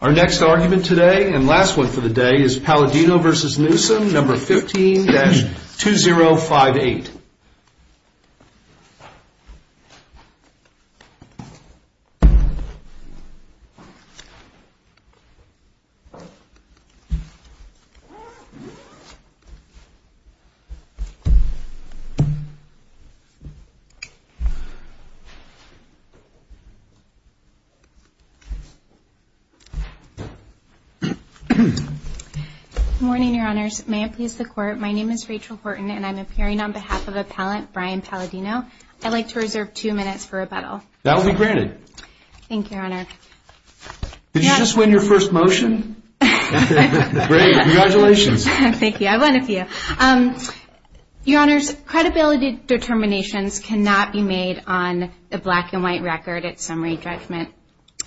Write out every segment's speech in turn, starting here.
Our next argument today and last one for the day is Paladino v. Newsome, No. 15-2058. Good morning, Your Honors. May it please the Court, my name is Rachel Horton and I'm appearing on behalf of Appellant Brian Paladino. I'd like to reserve two minutes for rebuttal. That will be granted. Thank you, Your Honor. Did you just win your first motion? Great, congratulations. Thank you, I won a few. Your Honors, credibility determinations cannot be made on a black and white record at summary judgment.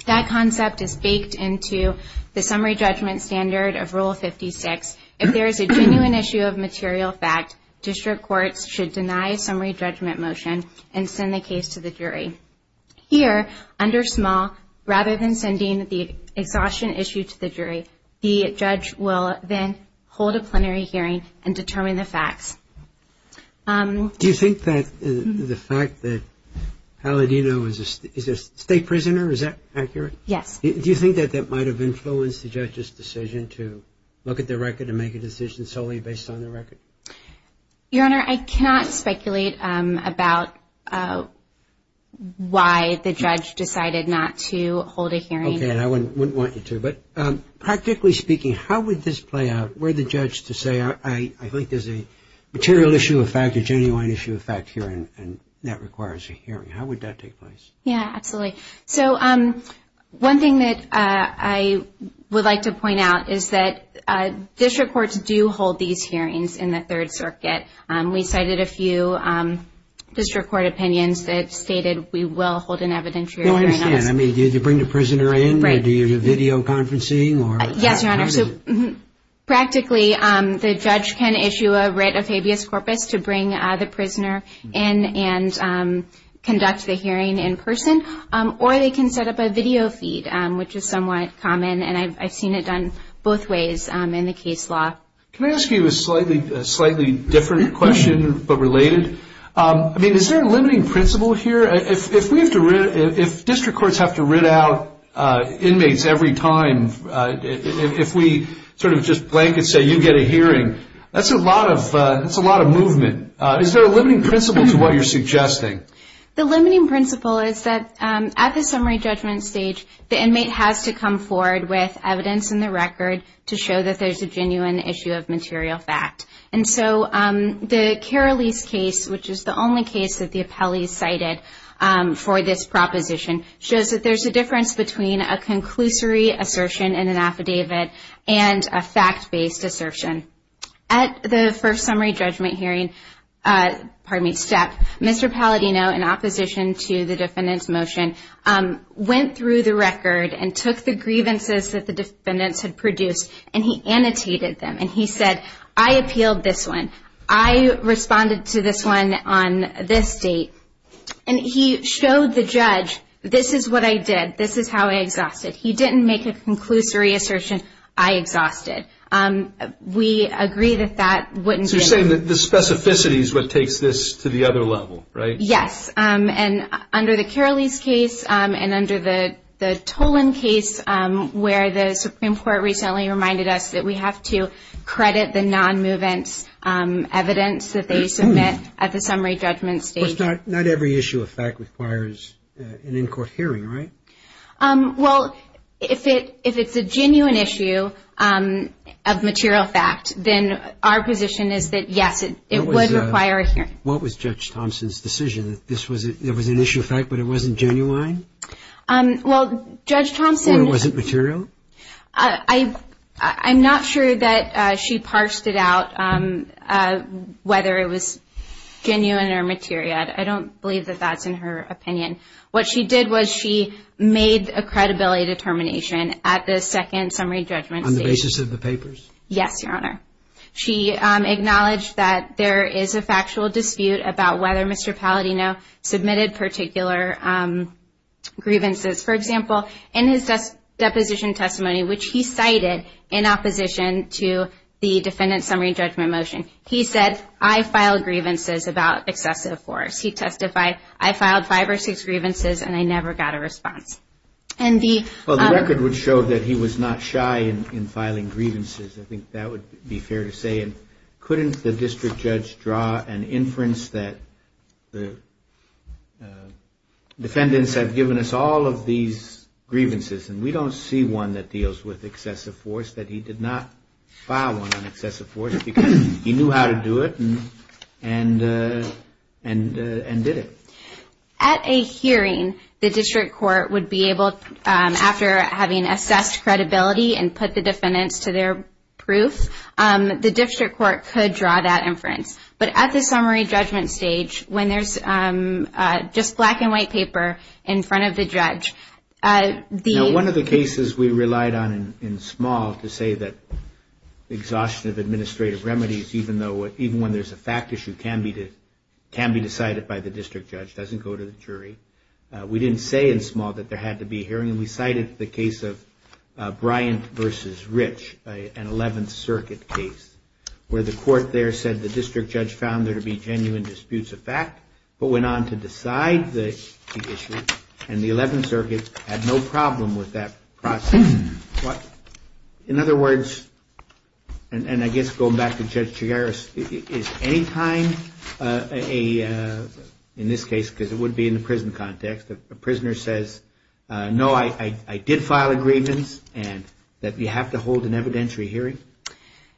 That concept is baked into the summary judgment standard of Rule 56. If there is a genuine issue of material fact, district courts should deny a summary judgment motion and send the case to the jury. Here, under small, rather than sending the exhaustion issue to the jury, the judge will then hold a plenary hearing and determine the facts. Do you think that the fact that Paladino is a state prisoner, is that accurate? Yes. Do you think that that might have influenced the judge's decision to look at the record and make a decision solely based on the record? Your Honor, I cannot speculate about why the judge decided not to hold a hearing. Okay, I wouldn't want you to. Practically speaking, how would this play out? Were the judge to say, I think there's a material issue of fact, a genuine issue of fact here, and that requires a hearing. How would that take place? Yeah, absolutely. One thing that I would like to point out is that district courts do hold these hearings in the Third Circuit. We cited a few district court opinions that stated we will hold an evidentiary hearing. I understand. Do you bring the prisoner in, or do you do video conferencing? Yes, Your Honor. Practically, the judge can issue a writ of habeas corpus to bring the prisoner in and conduct the hearing in person, or they can set up a video feed, which is somewhat common, and I've seen it done both ways in the case law. Can I ask you a slightly different question, but related? Is there a limiting principle here? If district courts have to writ out inmates every time, if we sort of just blanket say you get a hearing, that's a lot of movement. Is there a limiting principle to what you're suggesting? The limiting principle is that at the summary judgment stage, the inmate has to come forward with evidence in the record to show that there's a genuine issue of material fact. And so the Keralese case, which is the only case that the appellees cited for this proposition, shows that there's a difference between a conclusory assertion in an affidavit and a fact-based assertion. At the first summary judgment hearing step, Mr. Palladino, in opposition to the defendant's motion, went through the record and took the grievances that the defendants had produced, and he annotated them. And he said, I appealed this one. I responded to this one on this date. And he showed the judge, this is what I did. This is how I exhausted. He didn't make a conclusory assertion. I exhausted. We agree that that wouldn't be enough. So you're saying that the specificity is what takes this to the other level, right? Yes. And under the Keralese case and under the Tolan case, where the Supreme Court recently reminded us that we have to credit the non-movement evidence that they submit at the summary judgment stage. Of course, not every issue of fact requires an in-court hearing, right? Well, if it's a genuine issue of material fact, then our position is that, yes, it would require a hearing. What was Judge Thompson's decision, that this was an issue of fact, but it wasn't genuine? Well, Judge Thompson. Or it wasn't material? I'm not sure that she parsed it out, whether it was genuine or material. I don't believe that that's in her opinion. What she did was she made a credibility determination at the second summary judgment stage. On the basis of the papers? Yes, Your Honor. She acknowledged that there is a factual dispute about whether Mr. Paladino submitted particular grievances. For example, in his deposition testimony, which he cited in opposition to the defendant's summary judgment motion, he said, I filed grievances about excessive force. He testified, I filed five or six grievances and I never got a response. Well, the record would show that he was not shy in filing grievances. I think that would be fair to say. Couldn't the district judge draw an inference that the defendants have given us all of these grievances and we don't see one that deals with excessive force, that he did not file one on excessive force because he knew how to do it and did it? At a hearing, the district court would be able, after having assessed credibility and put the defendants to their proof, the district court could draw that inference. But at the summary judgment stage, when there's just black and white paper in front of the judge, the – Now, one of the cases we relied on in small to say that exhaustion of administrative remedies, even when there's a fact issue, can be decided by the district judge. It doesn't go to the jury. We didn't say in small that there had to be a hearing. We cited the case of Bryant versus Rich, an 11th Circuit case, where the court there said the district judge found there to be genuine disputes of fact, but went on to decide the issue and the 11th Circuit had no problem with that process. In other words, and I guess going back to Judge Chigaris, is any time in this case, because it would be in the prison context, a prisoner says, no, I did file a grievance, and that you have to hold an evidentiary hearing?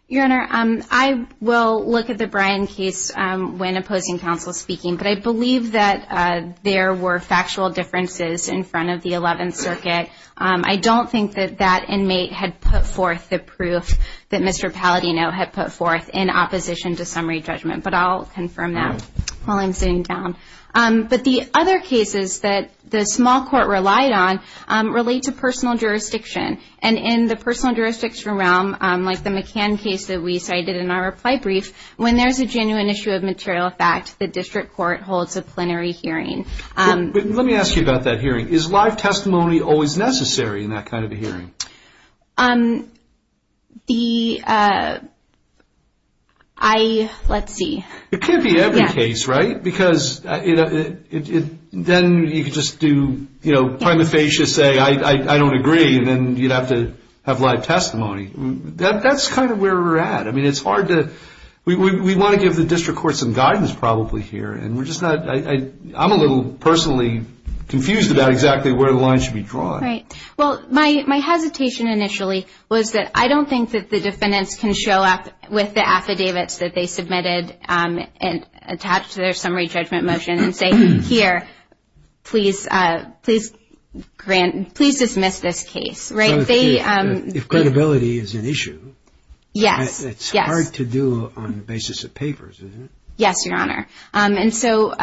Your Honor, I will look at the Bryant case when opposing counsel speaking, but I believe that there were factual differences in front of the 11th Circuit. I don't think that that inmate had put forth the proof that Mr. Paladino had put forth in opposition to summary judgment, but I'll confirm that while I'm sitting down. But the other cases that the small court relied on relate to personal jurisdiction, and in the personal jurisdiction realm, like the McCann case that we cited in our reply brief, when there's a genuine issue of material fact, the district court holds a plenary hearing. Let me ask you about that hearing. Is live testimony always necessary in that kind of a hearing? Let's see. It could be every case, right? Because then you could just do prima facie, say I don't agree, and then you'd have to have live testimony. That's kind of where we're at. We want to give the district court some guidance probably here, and I'm a little personally confused about exactly where the line should be drawn. Right. Well, my hesitation initially was that I don't think that the defendants can show up with the affidavits that they submitted attached to their summary judgment motion and say, here, please dismiss this case, right? If credibility is an issue, it's hard to do on the basis of papers, isn't it? Yes, Your Honor. And so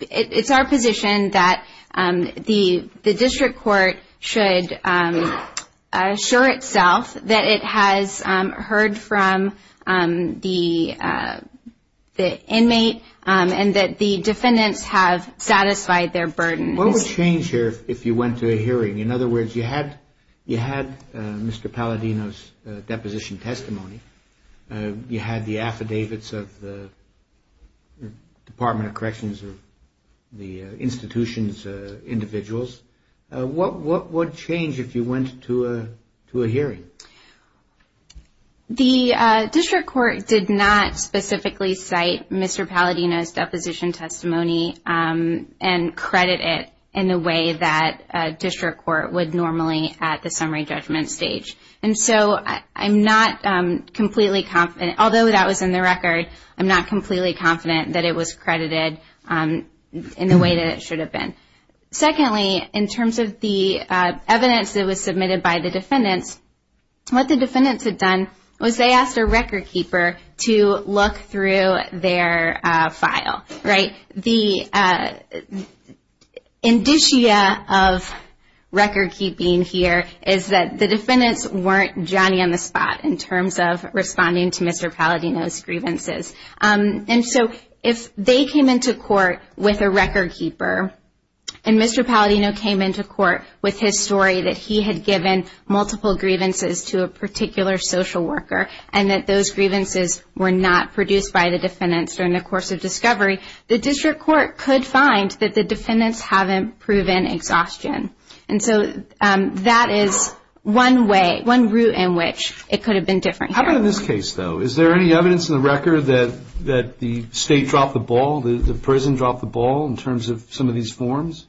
it's our position that the district court should assure itself that it has heard from the inmate and that the defendants have satisfied their burden. What would change here if you went to a hearing? In other words, you had Mr. Palladino's deposition testimony. You had the affidavits of the Department of Corrections or the institution's individuals. What would change if you went to a hearing? The district court did not specifically cite Mr. Palladino's deposition testimony and credit it in a way that a district court would normally at the summary judgment stage. And so I'm not completely confident, although that was in the record, I'm not completely confident that it was credited in the way that it should have been. Secondly, in terms of the evidence that was submitted by the defendants, what the defendants had done was they asked a record keeper to look through their file, right? The indicia of record keeping here is that the defendants weren't Johnny on the spot in terms of responding to Mr. Palladino's grievances. And so if they came into court with a record keeper and Mr. Palladino came into court with his story that he had given multiple grievances to a particular social worker and that those grievances were not produced by the defendants during the course of discovery, the district court could find that the defendants haven't proven exhaustion. And so that is one way, one route in which it could have been different here. How about in this case, though? Is there any evidence in the record that the state dropped the ball, the prison dropped the ball in terms of some of these forms?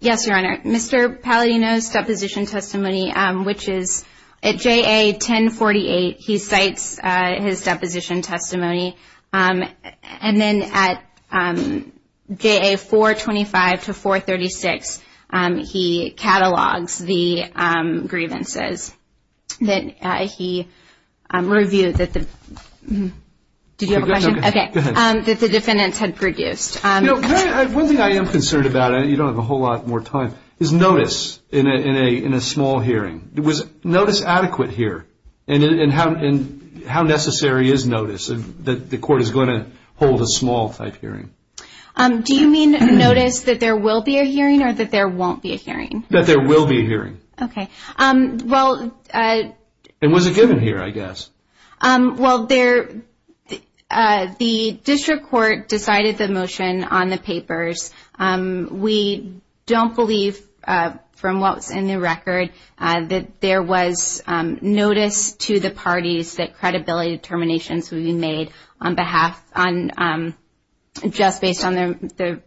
Yes, Your Honor. Mr. Palladino's deposition testimony, which is at JA 1048, he cites his deposition testimony. And then at JA 425 to 436, he catalogs the grievances that he reviewed that the defendants had produced. You know, one thing I am concerned about, and you don't have a whole lot more time, is notice in a small hearing. Was notice adequate here? And how necessary is notice that the court is going to hold a small-type hearing? Do you mean notice that there will be a hearing or that there won't be a hearing? That there will be a hearing. Okay. And was it given here, I guess? Well, the district court decided the motion on the papers. We don't believe, from what was in the record, that there was notice to the parties that credibility determinations would be made on behalf, just based on the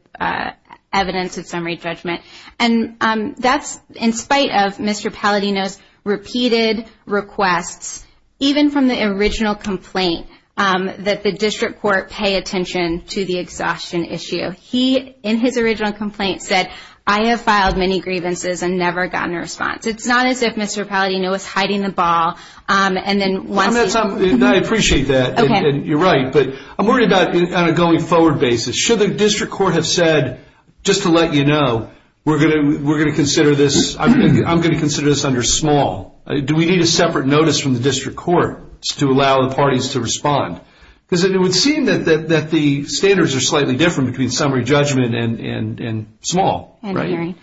evidence of summary judgment. And that's in spite of Mr. Palladino's repeated requests, even from the original complaint, that the district court pay attention to the exhaustion issue. He, in his original complaint, said, I have filed many grievances and never gotten a response. It's not as if Mr. Palladino was hiding the ball. I appreciate that. You're right. But I'm worried about it on a going-forward basis. Should the district court have said, just to let you know, we're going to consider this, I'm going to consider this under small. Do we need a separate notice from the district court to allow the parties to respond? Because it would seem that the standards are slightly different between summary judgment and small. And hearing.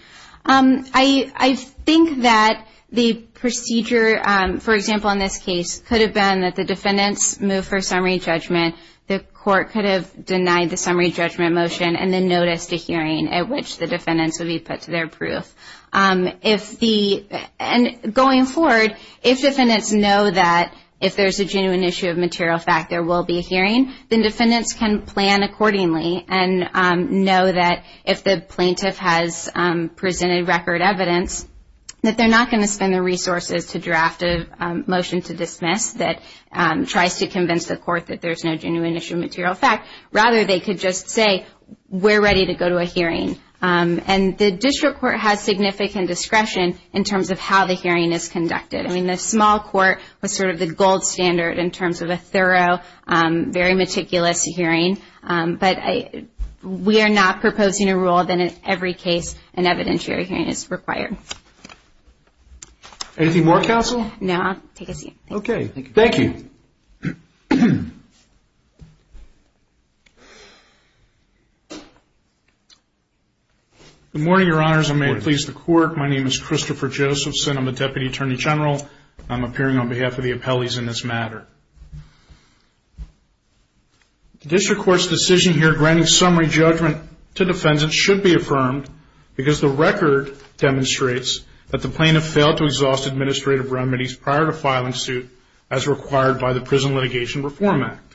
I think that the procedure, for example, in this case, could have been that the defendants move for summary judgment, the court could have denied the summary judgment motion, and then noticed a hearing at which the defendants would be put to their proof. And going forward, if defendants know that if there's a genuine issue of material fact, there will be a hearing, then defendants can plan accordingly and know that if the plaintiff has presented record evidence, that they're not going to spend the resources to draft a motion to dismiss that tries to convince the court that there's no genuine issue of material fact. Rather, they could just say, we're ready to go to a hearing. And the district court has significant discretion in terms of how the hearing is conducted. I mean, the small court was sort of the gold standard in terms of a thorough, very meticulous hearing. But we are not proposing a rule that in every case an evidentiary hearing is required. Anything more, counsel? No. Take a seat. Okay. Thank you. Good morning, Your Honors. I may please the court. My name is Christopher Josephson. I'm a Deputy Attorney General. I'm appearing on behalf of the appellees in this matter. The district court's decision here granting summary judgment to defendants should be affirmed because the record demonstrates that the plaintiff failed to exhaust administrative remedies prior to filing suit as required by the Prison Litigation Reform Act.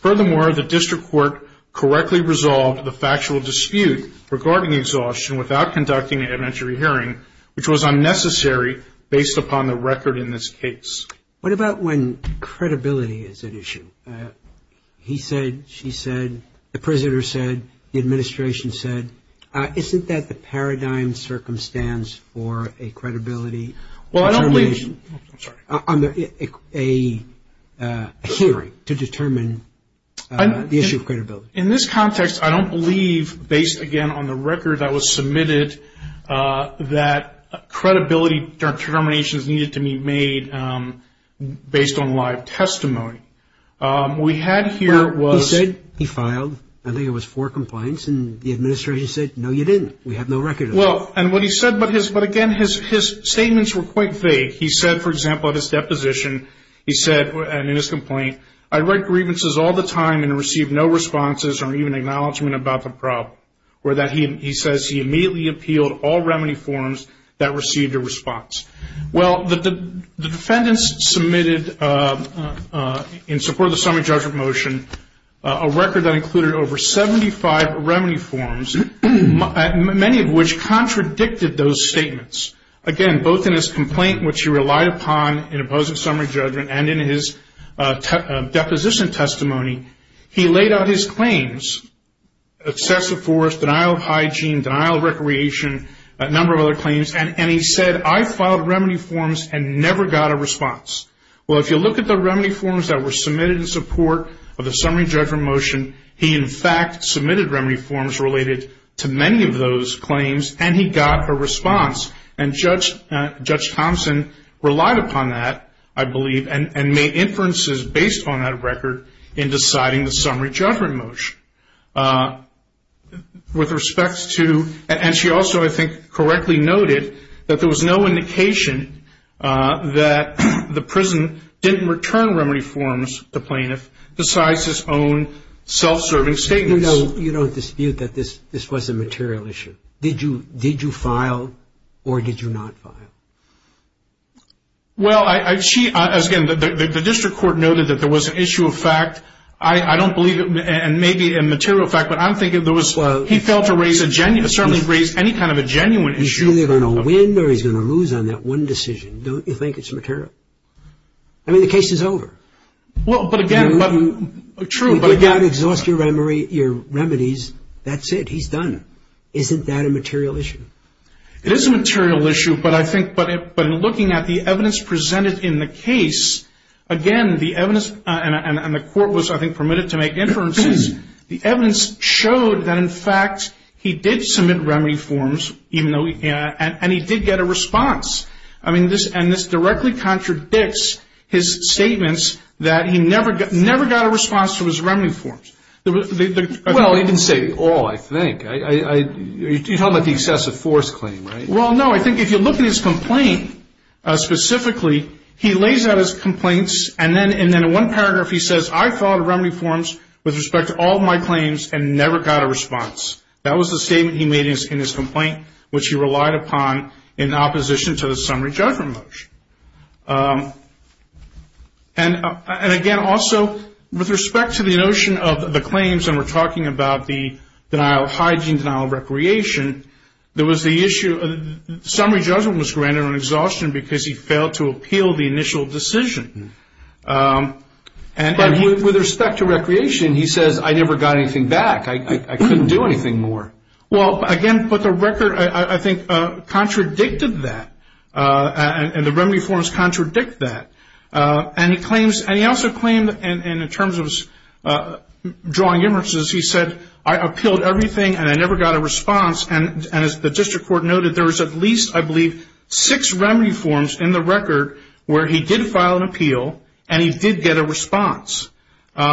Furthermore, the district court correctly resolved the factual dispute regarding exhaustion without conducting an evidentiary hearing, which was unnecessary based upon the record in this case. What about when credibility is at issue? He said, she said, the prisoner said, the administration said. Isn't that the paradigm circumstance for a credibility determination? Well, I don't believe. I'm sorry. A hearing to determine the issue of credibility. In this context, I don't believe, based, again, on the record that was submitted, that credibility determinations needed to be made based on live testimony. What we had here was. He said he filed. I think it was four complaints, and the administration said, no, you didn't. We have no record of that. Well, and what he said, but again, his statements were quite vague. He said, for example, at his deposition, he said, and in his complaint, I write grievances all the time and receive no responses or even acknowledgment about the problem. He says he immediately appealed all remedy forms that received a response. Well, the defendants submitted, in support of the summary judgment motion, a record that included over 75 remedy forms, many of which contradicted those statements. Again, both in his complaint, which he relied upon in opposing summary judgment, and in his deposition testimony, he laid out his claims, excessive force, denial of hygiene, denial of recreation, a number of other claims, and he said, I filed remedy forms and never got a response. Well, if you look at the remedy forms that were submitted in support of the summary judgment motion, he, in fact, submitted remedy forms related to many of those claims, and he got a response. And Judge Thompson relied upon that, I believe, and made inferences based on that record in deciding the summary judgment motion. With respect to, and she also, I think, correctly noted that there was no indication that the prison didn't return the plaintiff decides his own self-serving statements. You don't dispute that this was a material issue. Did you file or did you not file? Well, again, the district court noted that there was an issue of fact. I don't believe it may be a material fact, but I'm thinking he failed to raise a genuine issue. He's either going to win or he's going to lose on that one decision. Don't you think it's material? I mean, the case is over. Well, but again, but true. But again, exhaust your remedies. That's it. He's done. Isn't that a material issue? It is a material issue, but I think when looking at the evidence presented in the case, again, the evidence, and the court was, I think, permitted to make inferences, the evidence showed that, in fact, he did submit remedy forms, and he did get a response. I mean, and this directly contradicts his statements that he never got a response to his remedy forms. Well, he didn't say all, I think. You're talking about the excessive force claim, right? Well, no. I think if you look at his complaint specifically, he lays out his complaints, and then in one paragraph he says, I filed remedy forms with respect to all of my claims and never got a response. That was the statement he made in his complaint, which he relied upon in opposition to the summary judgment motion. And again, also, with respect to the notion of the claims, and we're talking about the denial of hygiene, denial of recreation, there was the issue of summary judgment was granted on exhaustion because he failed to appeal the initial decision. But with respect to recreation, he says, I never got anything back. I couldn't do anything more. Well, again, but the record, I think, contradicted that. And the remedy forms contradict that. And he claims, and he also claimed, and in terms of drawing inferences, he said, I appealed everything and I never got a response. And as the district court noted, there was at least, I believe, six remedy forms in the record where he did file an appeal and he did get a response. You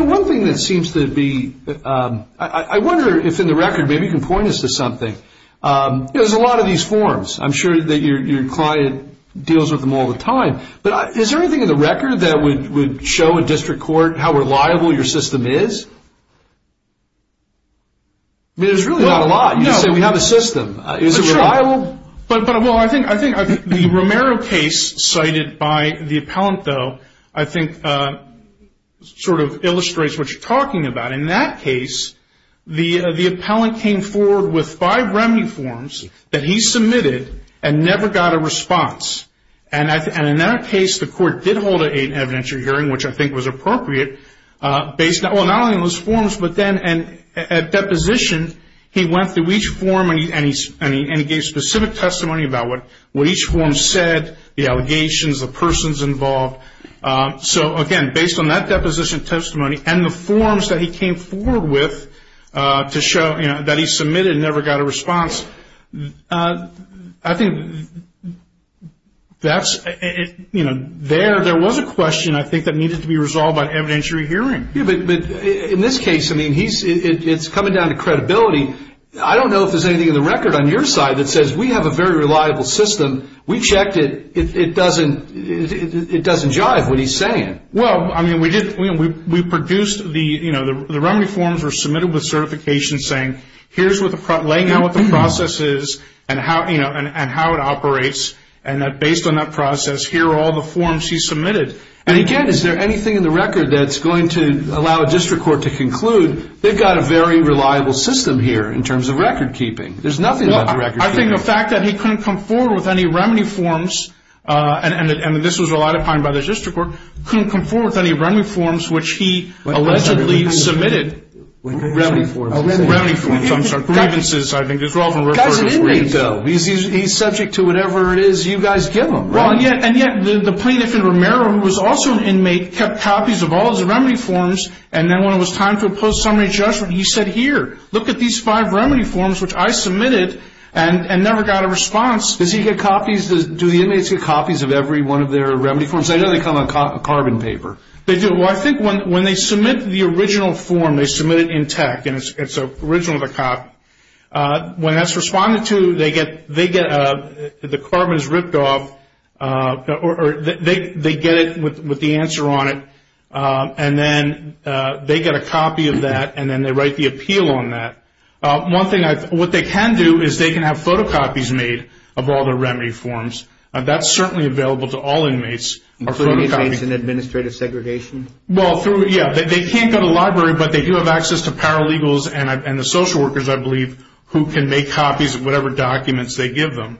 know, one thing that seems to be, I wonder if in the record, maybe you can point us to something. There's a lot of these forms. I'm sure that your client deals with them all the time. But is there anything in the record that would show a district court how reliable your system is? I mean, there's really not a lot. You said we have a system. Is it reliable? Well, I think the Romero case cited by the appellant, though, I think sort of illustrates what you're talking about. In that case, the appellant came forward with five remedy forms that he submitted and never got a response. And in that case, the court did hold an eight evidentiary hearing, which I think was appropriate, based not only on those forms, but then at deposition, he went through each form and he gave specific testimony about what each form said, the allegations, the persons involved. So, again, based on that deposition testimony and the forms that he came forward with to show that he submitted and never got a response, I think that's, you know, there was a question, I think, that needed to be resolved by an evidentiary hearing. Yeah, but in this case, I mean, it's coming down to credibility. I don't know if there's anything in the record on your side that says we have a very reliable system. We checked it. It doesn't jive what he's saying. Well, I mean, we produced the, you know, the remedy forms were submitted with certification saying here's what the process is and how it operates, and that based on that process, here are all the forms he submitted. And, again, is there anything in the record that's going to allow a district court to conclude they've got a very reliable system here in terms of record keeping? There's nothing about the record keeping. Well, I think the fact that he couldn't come forward with any remedy forms, and this was relied upon by the district court, couldn't come forward with any remedy forms which he allegedly submitted. Remedy forms. Remedy forms, I'm sorry. Grievances, I think, as well. He's an inmate, though. He's subject to whatever it is you guys give him. Well, and yet the plaintiff in Romero, who was also an inmate, kept copies of all his remedy forms, and then when it was time for a post-summary judgment, he said, here, look at these five remedy forms which I submitted and never got a response. Does he get copies? Do the inmates get copies of every one of their remedy forms? I know they come on carbon paper. They do. Well, I think when they submit the original form, they submit it in tech, and it's original to the cop. When that's responded to, they get the carbon is ripped off, or they get it with the answer on it, and then they get a copy of that, and then they write the appeal on that. One thing, what they can do is they can have photocopies made of all their remedy forms. That's certainly available to all inmates. Including inmates in administrative segregation? Well, yeah. They can't go to the library, but they do have access to paralegals and the social workers, I believe, who can make copies of whatever documents they give them.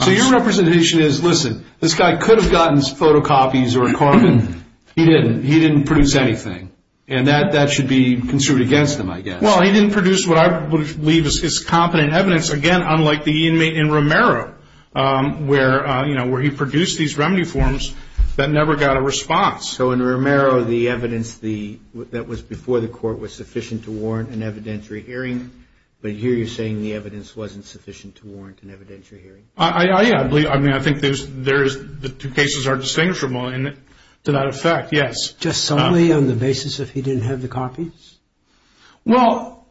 So your representation is, listen, this guy could have gotten photocopies or carbon. He didn't. He didn't produce anything, and that should be construed against him, I guess. Well, he didn't produce what I believe is his competent evidence, again, unlike the inmate in Romero, where he produced these remedy forms that never got a response. So in Romero, the evidence that was before the court was sufficient to warrant an evidentiary hearing, but here you're saying the evidence wasn't sufficient to warrant an evidentiary hearing. Yeah. I mean, I think the two cases are distinguishable to that effect, yes. Just solely on the basis that he didn't have the copies? Well,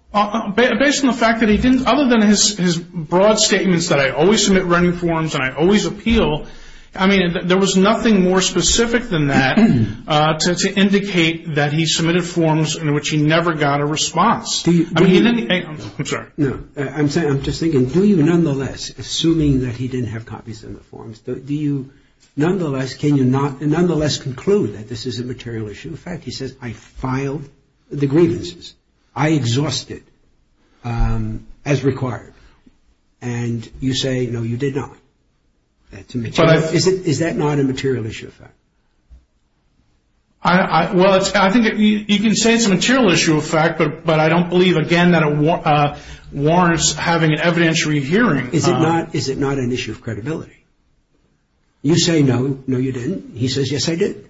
based on the fact that he didn't, other than his broad statements that I always submit remedy forms and I always appeal, I mean, there was nothing more specific than that to indicate that he submitted forms in which he never got a response. I'm sorry. No. I'm just thinking, do you nonetheless, assuming that he didn't have copies in the forms, do you nonetheless conclude that this is a material issue? In fact, he says, I filed the grievances. I exhausted as required. And you say, no, you did not. Is that not a material issue of fact? Well, I think you can say it's a material issue of fact, but I don't believe, again, that it warrants having an evidentiary hearing. Is it not an issue of credibility? You say, no, no, you didn't. He says, yes, I did.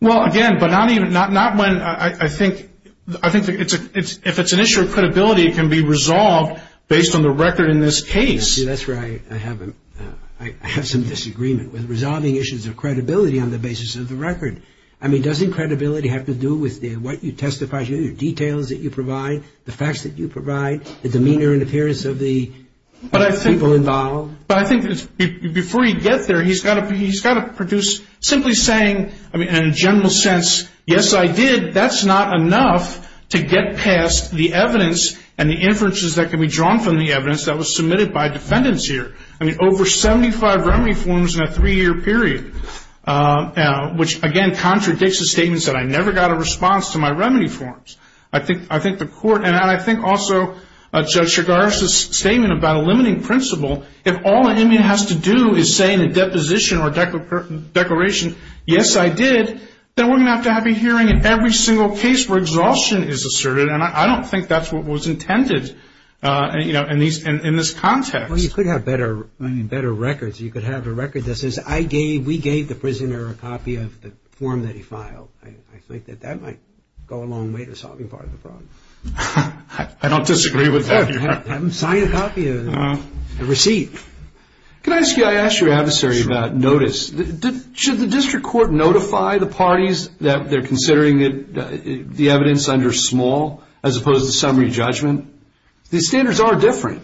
Well, again, but not when I think if it's an issue of credibility, it can be resolved based on the record in this case. That's right. I have some disagreement with resolving issues of credibility on the basis of the record. I mean, doesn't credibility have to do with what you testify, the details that you provide, the facts that you provide, the demeanor and appearance of the people involved? But I think before you get there, he's got to produce simply saying, I mean, in a general sense, yes, I did. That's not enough to get past the evidence and the inferences that can be drawn from the evidence that was submitted by defendants here. I mean, over 75 remedy forms in a three-year period, which, again, contradicts the statements that I never got a response to my remedy forms. I think the court, and I think also Judge Chigaris' statement about a limiting principle, if all an immune has to do is say in a deposition or declaration, yes, I did, then we're going to have to have a hearing in every single case where exhaustion is asserted, and I don't think that's what was intended in this context. Well, you could have better records. You could have a record that says, I gave, we gave the prisoner a copy of the form that he filed. I think that that might go a long way to solving part of the problem. I don't disagree with that. Have him sign a copy of the receipt. Can I ask you, I asked your adversary about notice. Should the district court notify the parties that they're considering the evidence under small as opposed to summary judgment? The standards are different.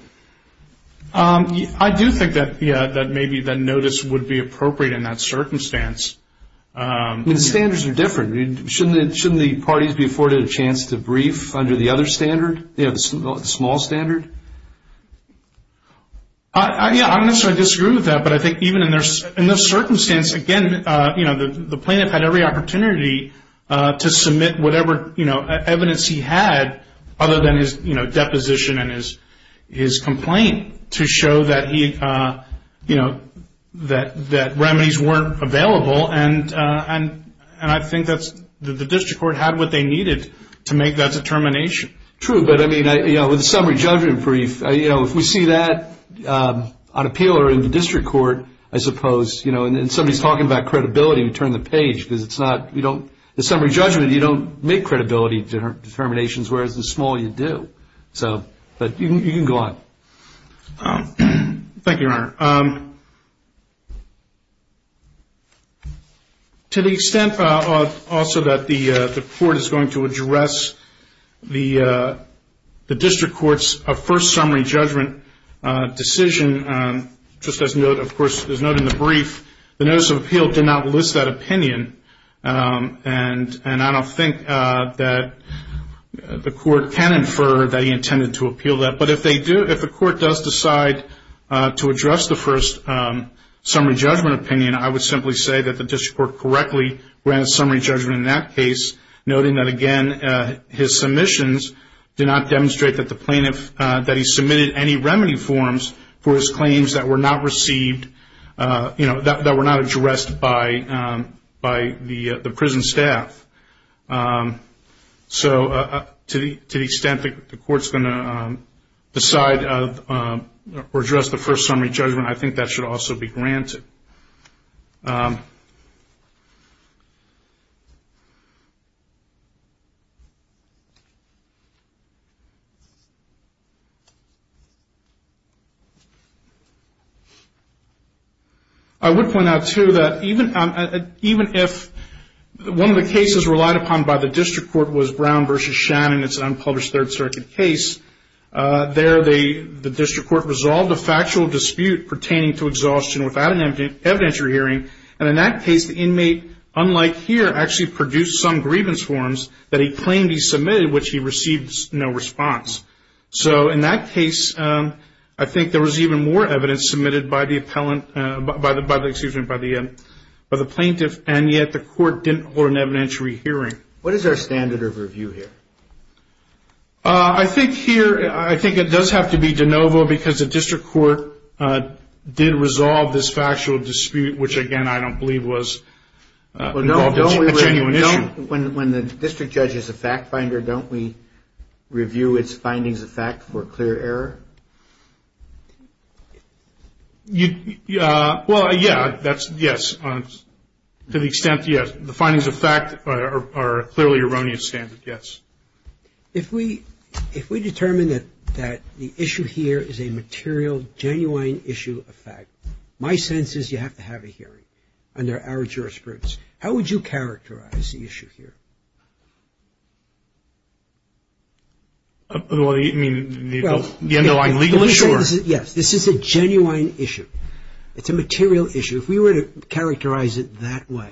I do think that, yeah, that maybe the notice would be appropriate in that circumstance. The standards are different. Shouldn't the parties be afforded a chance to brief under the other standard, the small standard? Yeah, I don't necessarily disagree with that, but I think even in this circumstance, again, the plaintiff had every opportunity to submit whatever evidence he had other than his deposition and his complaint to show that he, you know, that remedies weren't available, and I think that the district court had what they needed to make that determination. True, but I mean, you know, with a summary judgment brief, you know, if we see that on appeal or in the district court, I suppose, you know, and somebody's talking about credibility, we turn the page because it's not, you don't, the summary judgment, you don't make credibility determinations whereas the small, you do. So, but you can go on. Thank you, Your Honor. To the extent also that the court is going to address the district court's first summary judgment decision, just as note, of course, there's note in the brief, the notice of appeal did not list that opinion, and I don't think that the court can infer that he intended to appeal that, but if they do, if the court does decide to address the first summary judgment opinion, I would simply say that the district court correctly ran a summary judgment in that case, noting that, again, his submissions did not demonstrate that the plaintiff, that he submitted any remedy forms for his claims that were not received, you know, that were not addressed by the prison staff. So to the extent that the court's going to decide or address the first summary judgment, I think that should also be granted. I would point out, too, that even if one of the cases relied upon by the district court was Brown v. Shannon, it's an unpublished Third Circuit case, there the district court resolved a factual dispute pertaining to exhaustion without an evidentiary hearing, and in that case, the inmate, unlike here, actually produced some grievance forms that he claimed he submitted, which he received no response. So in that case, I think there was even more evidence submitted by the plaintiff, and yet the court didn't hold an evidentiary hearing. What is our standard of review here? I think here, I think it does have to be de novo, because the district court did resolve this factual dispute, which, again, I don't believe was a genuine issue. When the district judge is a fact finder, don't we review its findings of fact for clear error? Well, yeah, that's yes. To the extent, yes, the findings of fact are clearly erroneous standards, yes. If we determine that the issue here is a material, genuine issue of fact, my sense is you have to have a hearing under our jurisprudence. How would you characterize the issue here? Well, I mean, you know, I'm legally sure. Yes, this is a genuine issue. It's a material issue. If we were to characterize it that way,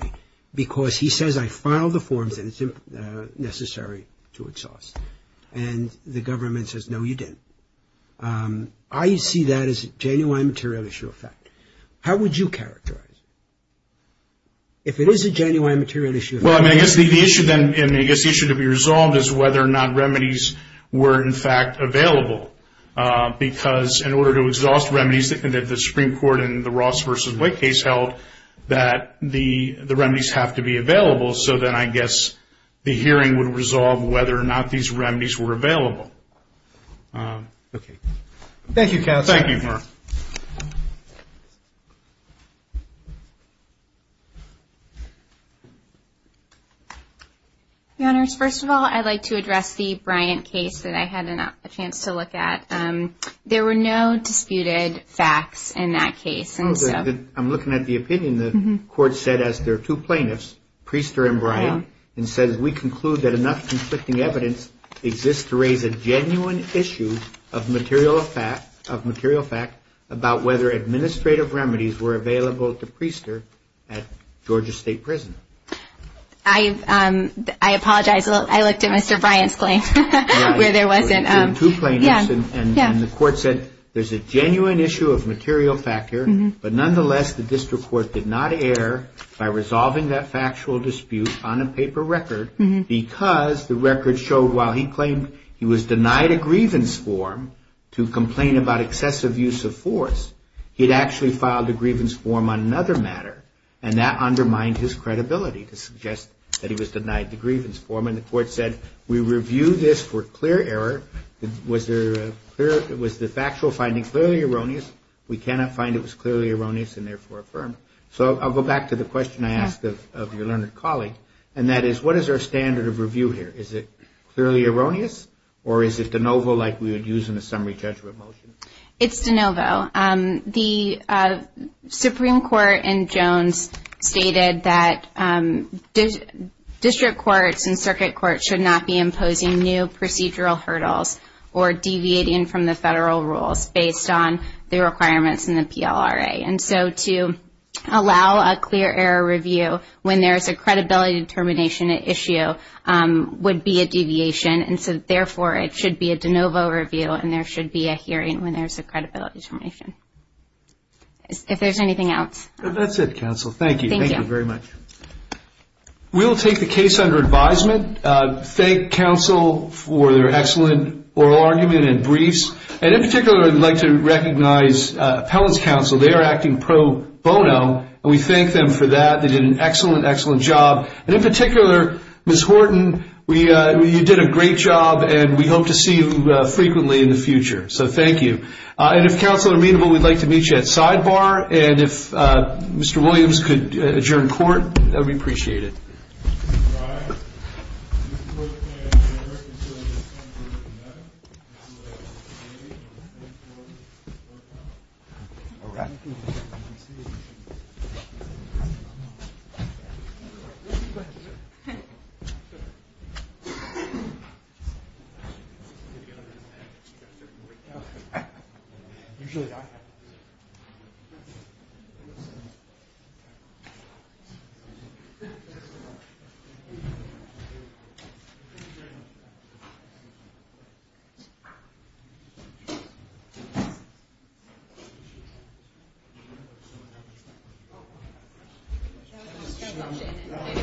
because he says, I filed the forms and it's necessary to exhaust, and the government says, no, you didn't. I see that as a genuine material issue of fact. How would you characterize it? If it is a genuine material issue of fact. Well, I mean, I guess the issue to be resolved is whether or not remedies were, in fact, available. Because in order to exhaust remedies that the Supreme Court in the Ross v. Wick case held that the remedies have to be available, so then I guess the hearing would resolve whether or not these remedies were available. Okay. Thank you, counsel. Thank you, Mark. Your Honors, first of all, I'd like to address the Bryant case that I had a chance to look at. There were no disputed facts in that case. I'm looking at the opinion the court said as their two plaintiffs, Priester and Bryant, and says, we conclude that enough conflicting evidence exists to raise a genuine issue of material fact about whether administrative remedies were available to Priester at Georgia State Prison. I apologize. I looked at Mr. Bryant's claim where there wasn't. Two plaintiffs, and the court said there's a genuine issue of material fact here, but nonetheless the district court did not err by resolving that factual dispute on a paper record because the record showed while he claimed he was denied a grievance form to complain about excessive use of force, he'd actually filed a grievance form on another matter, and that undermined his credibility to suggest that he was denied the grievance form, and the court said we review this for clear error. Was the factual finding clearly erroneous? We cannot find it was clearly erroneous and therefore affirm. So I'll go back to the question I asked of your learned colleague, and that is what is our standard of review here? Is it clearly erroneous, or is it de novo like we would use in a summary judgment motion? It's de novo. The Supreme Court in Jones stated that district courts and circuit courts should not be imposing new procedural hurdles or deviating from the federal rules based on the requirements in the PLRA, and so to allow a clear error review when there is a credibility determination issue would be a deviation, and so therefore it should be a de novo review, and there should be a hearing when there's a credibility determination. If there's anything else. That's it, counsel. Thank you. Thank you very much. We'll take the case under advisement. Thank counsel for their excellent oral argument and briefs, and in particular I'd like to recognize appellants counsel. They are acting pro bono, and we thank them for that. They did an excellent, excellent job, and in particular, Ms. Horton, you did a great job, and we hope to see you frequently in the future. So thank you. And if counsel is amenable, we'd like to meet you at sidebar, and if Mr. Williams could adjourn court, that would be appreciated. Thank you.